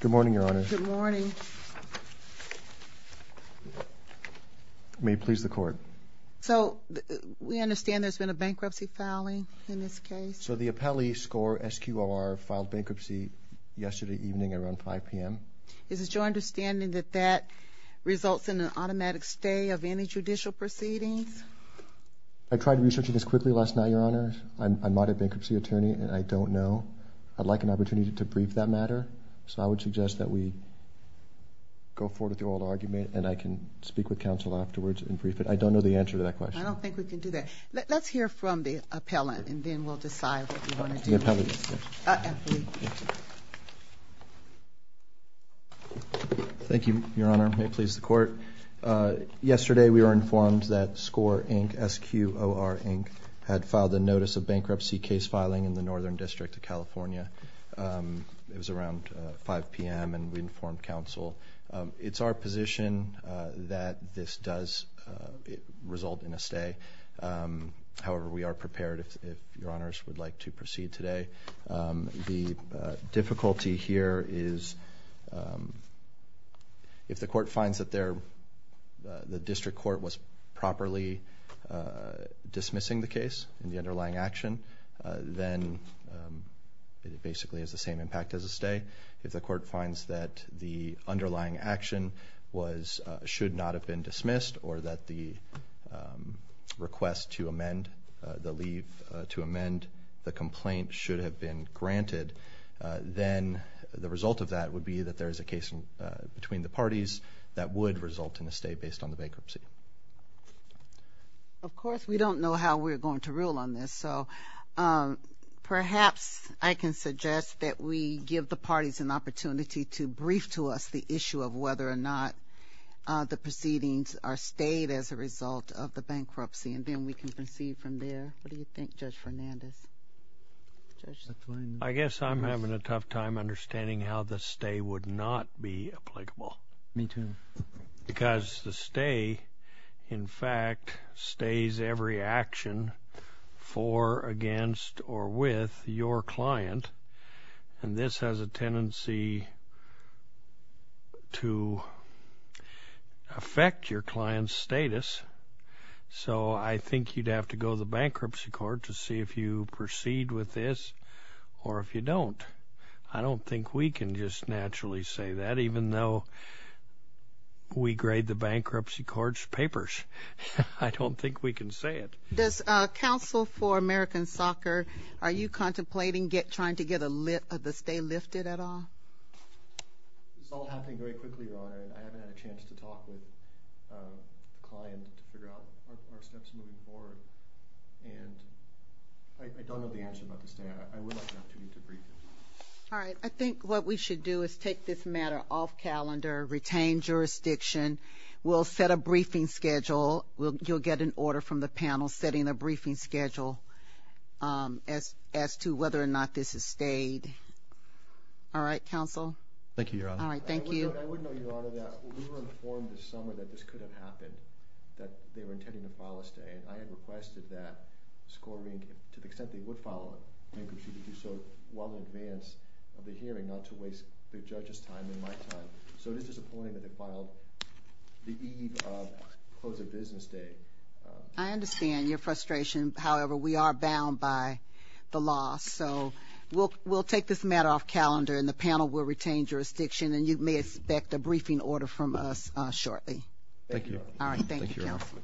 Good morning, Your Honor. Good morning. May it please the Court. So, we understand there's been a bankruptcy filing in this case? So, the appellee, Sqor, S-Q-O-R, filed bankruptcy yesterday evening around 5 p.m. Is it your understanding that that results in an automatic stay of any judicial proceedings? I tried researching this quickly last night, Your Honor. I'm not a bankruptcy attorney, and I don't know. I'd like an opportunity to brief that matter. So, I would suggest that we go forward with the oral argument, and I can speak with counsel afterwards and brief it. I don't know the answer to that question. I don't think we can do that. Let's hear from the appellant, and then we'll decide what we want to do. The appellant, yes. Thank you, Your Honor. May it please the Court. Yesterday, we were informed that Sqor, Inc., S-Q-O-R, Inc., had filed a notice of bankruptcy case filing in the Northern District of California. It was around 5 p.m., and we informed counsel. It's our position that this does result in a stay. However, we are prepared, if Your Honors would like to proceed today. The difficulty here is if the court finds that the district court was properly dismissing the case and the underlying action, then it basically has the same impact as a stay. If the court finds that the underlying action should not have been dismissed or that the request to amend the leave to amend the complaint should have been granted, then the result of that would be that there is a case between the parties that would result in a stay based on the bankruptcy. Of course, we don't know how we're going to rule on this. So perhaps I can suggest that we give the parties an opportunity to brief to us the issue of whether or not the proceedings are stayed as a result of the bankruptcy, and then we can proceed from there. What do you think, Judge Fernandez? I guess I'm having a tough time understanding how the stay would not be applicable. Me, too. Because the stay, in fact, stays every action for, against, or with your client. And this has a tendency to affect your client's status. So I think you'd have to go to the bankruptcy court to see if you proceed with this or if you don't. I don't think we can just naturally say that, even though we grade the bankruptcy court's papers. I don't think we can say it. Does counsel for American Soccer, are you contemplating trying to get the stay lifted at all? It's all happening very quickly, Your Honor, and I haven't had a chance to talk with the client to figure out our steps moving forward. And I don't know the answer about the stay. I would like an opportunity to brief him. All right. I think what we should do is take this matter off calendar, retain jurisdiction. We'll set a briefing schedule. You'll get an order from the panel setting a briefing schedule as to whether or not this is stayed. All right, counsel? Thank you, Your Honor. All right, thank you. I would note, Your Honor, that we were informed this summer that this could have happened, that they were intending to file a stay. And I had requested that Scoring, to the extent they would file a bankruptcy, to do so well in advance of the hearing, not to waste the judge's time and my time. So it is disappointing that they filed the eve of close of business day. I understand your frustration. However, we are bound by the law. So we'll take this matter off calendar, and the panel will retain jurisdiction. And you may expect a briefing order from us shortly. Thank you, Your Honor. Thank you, counsel.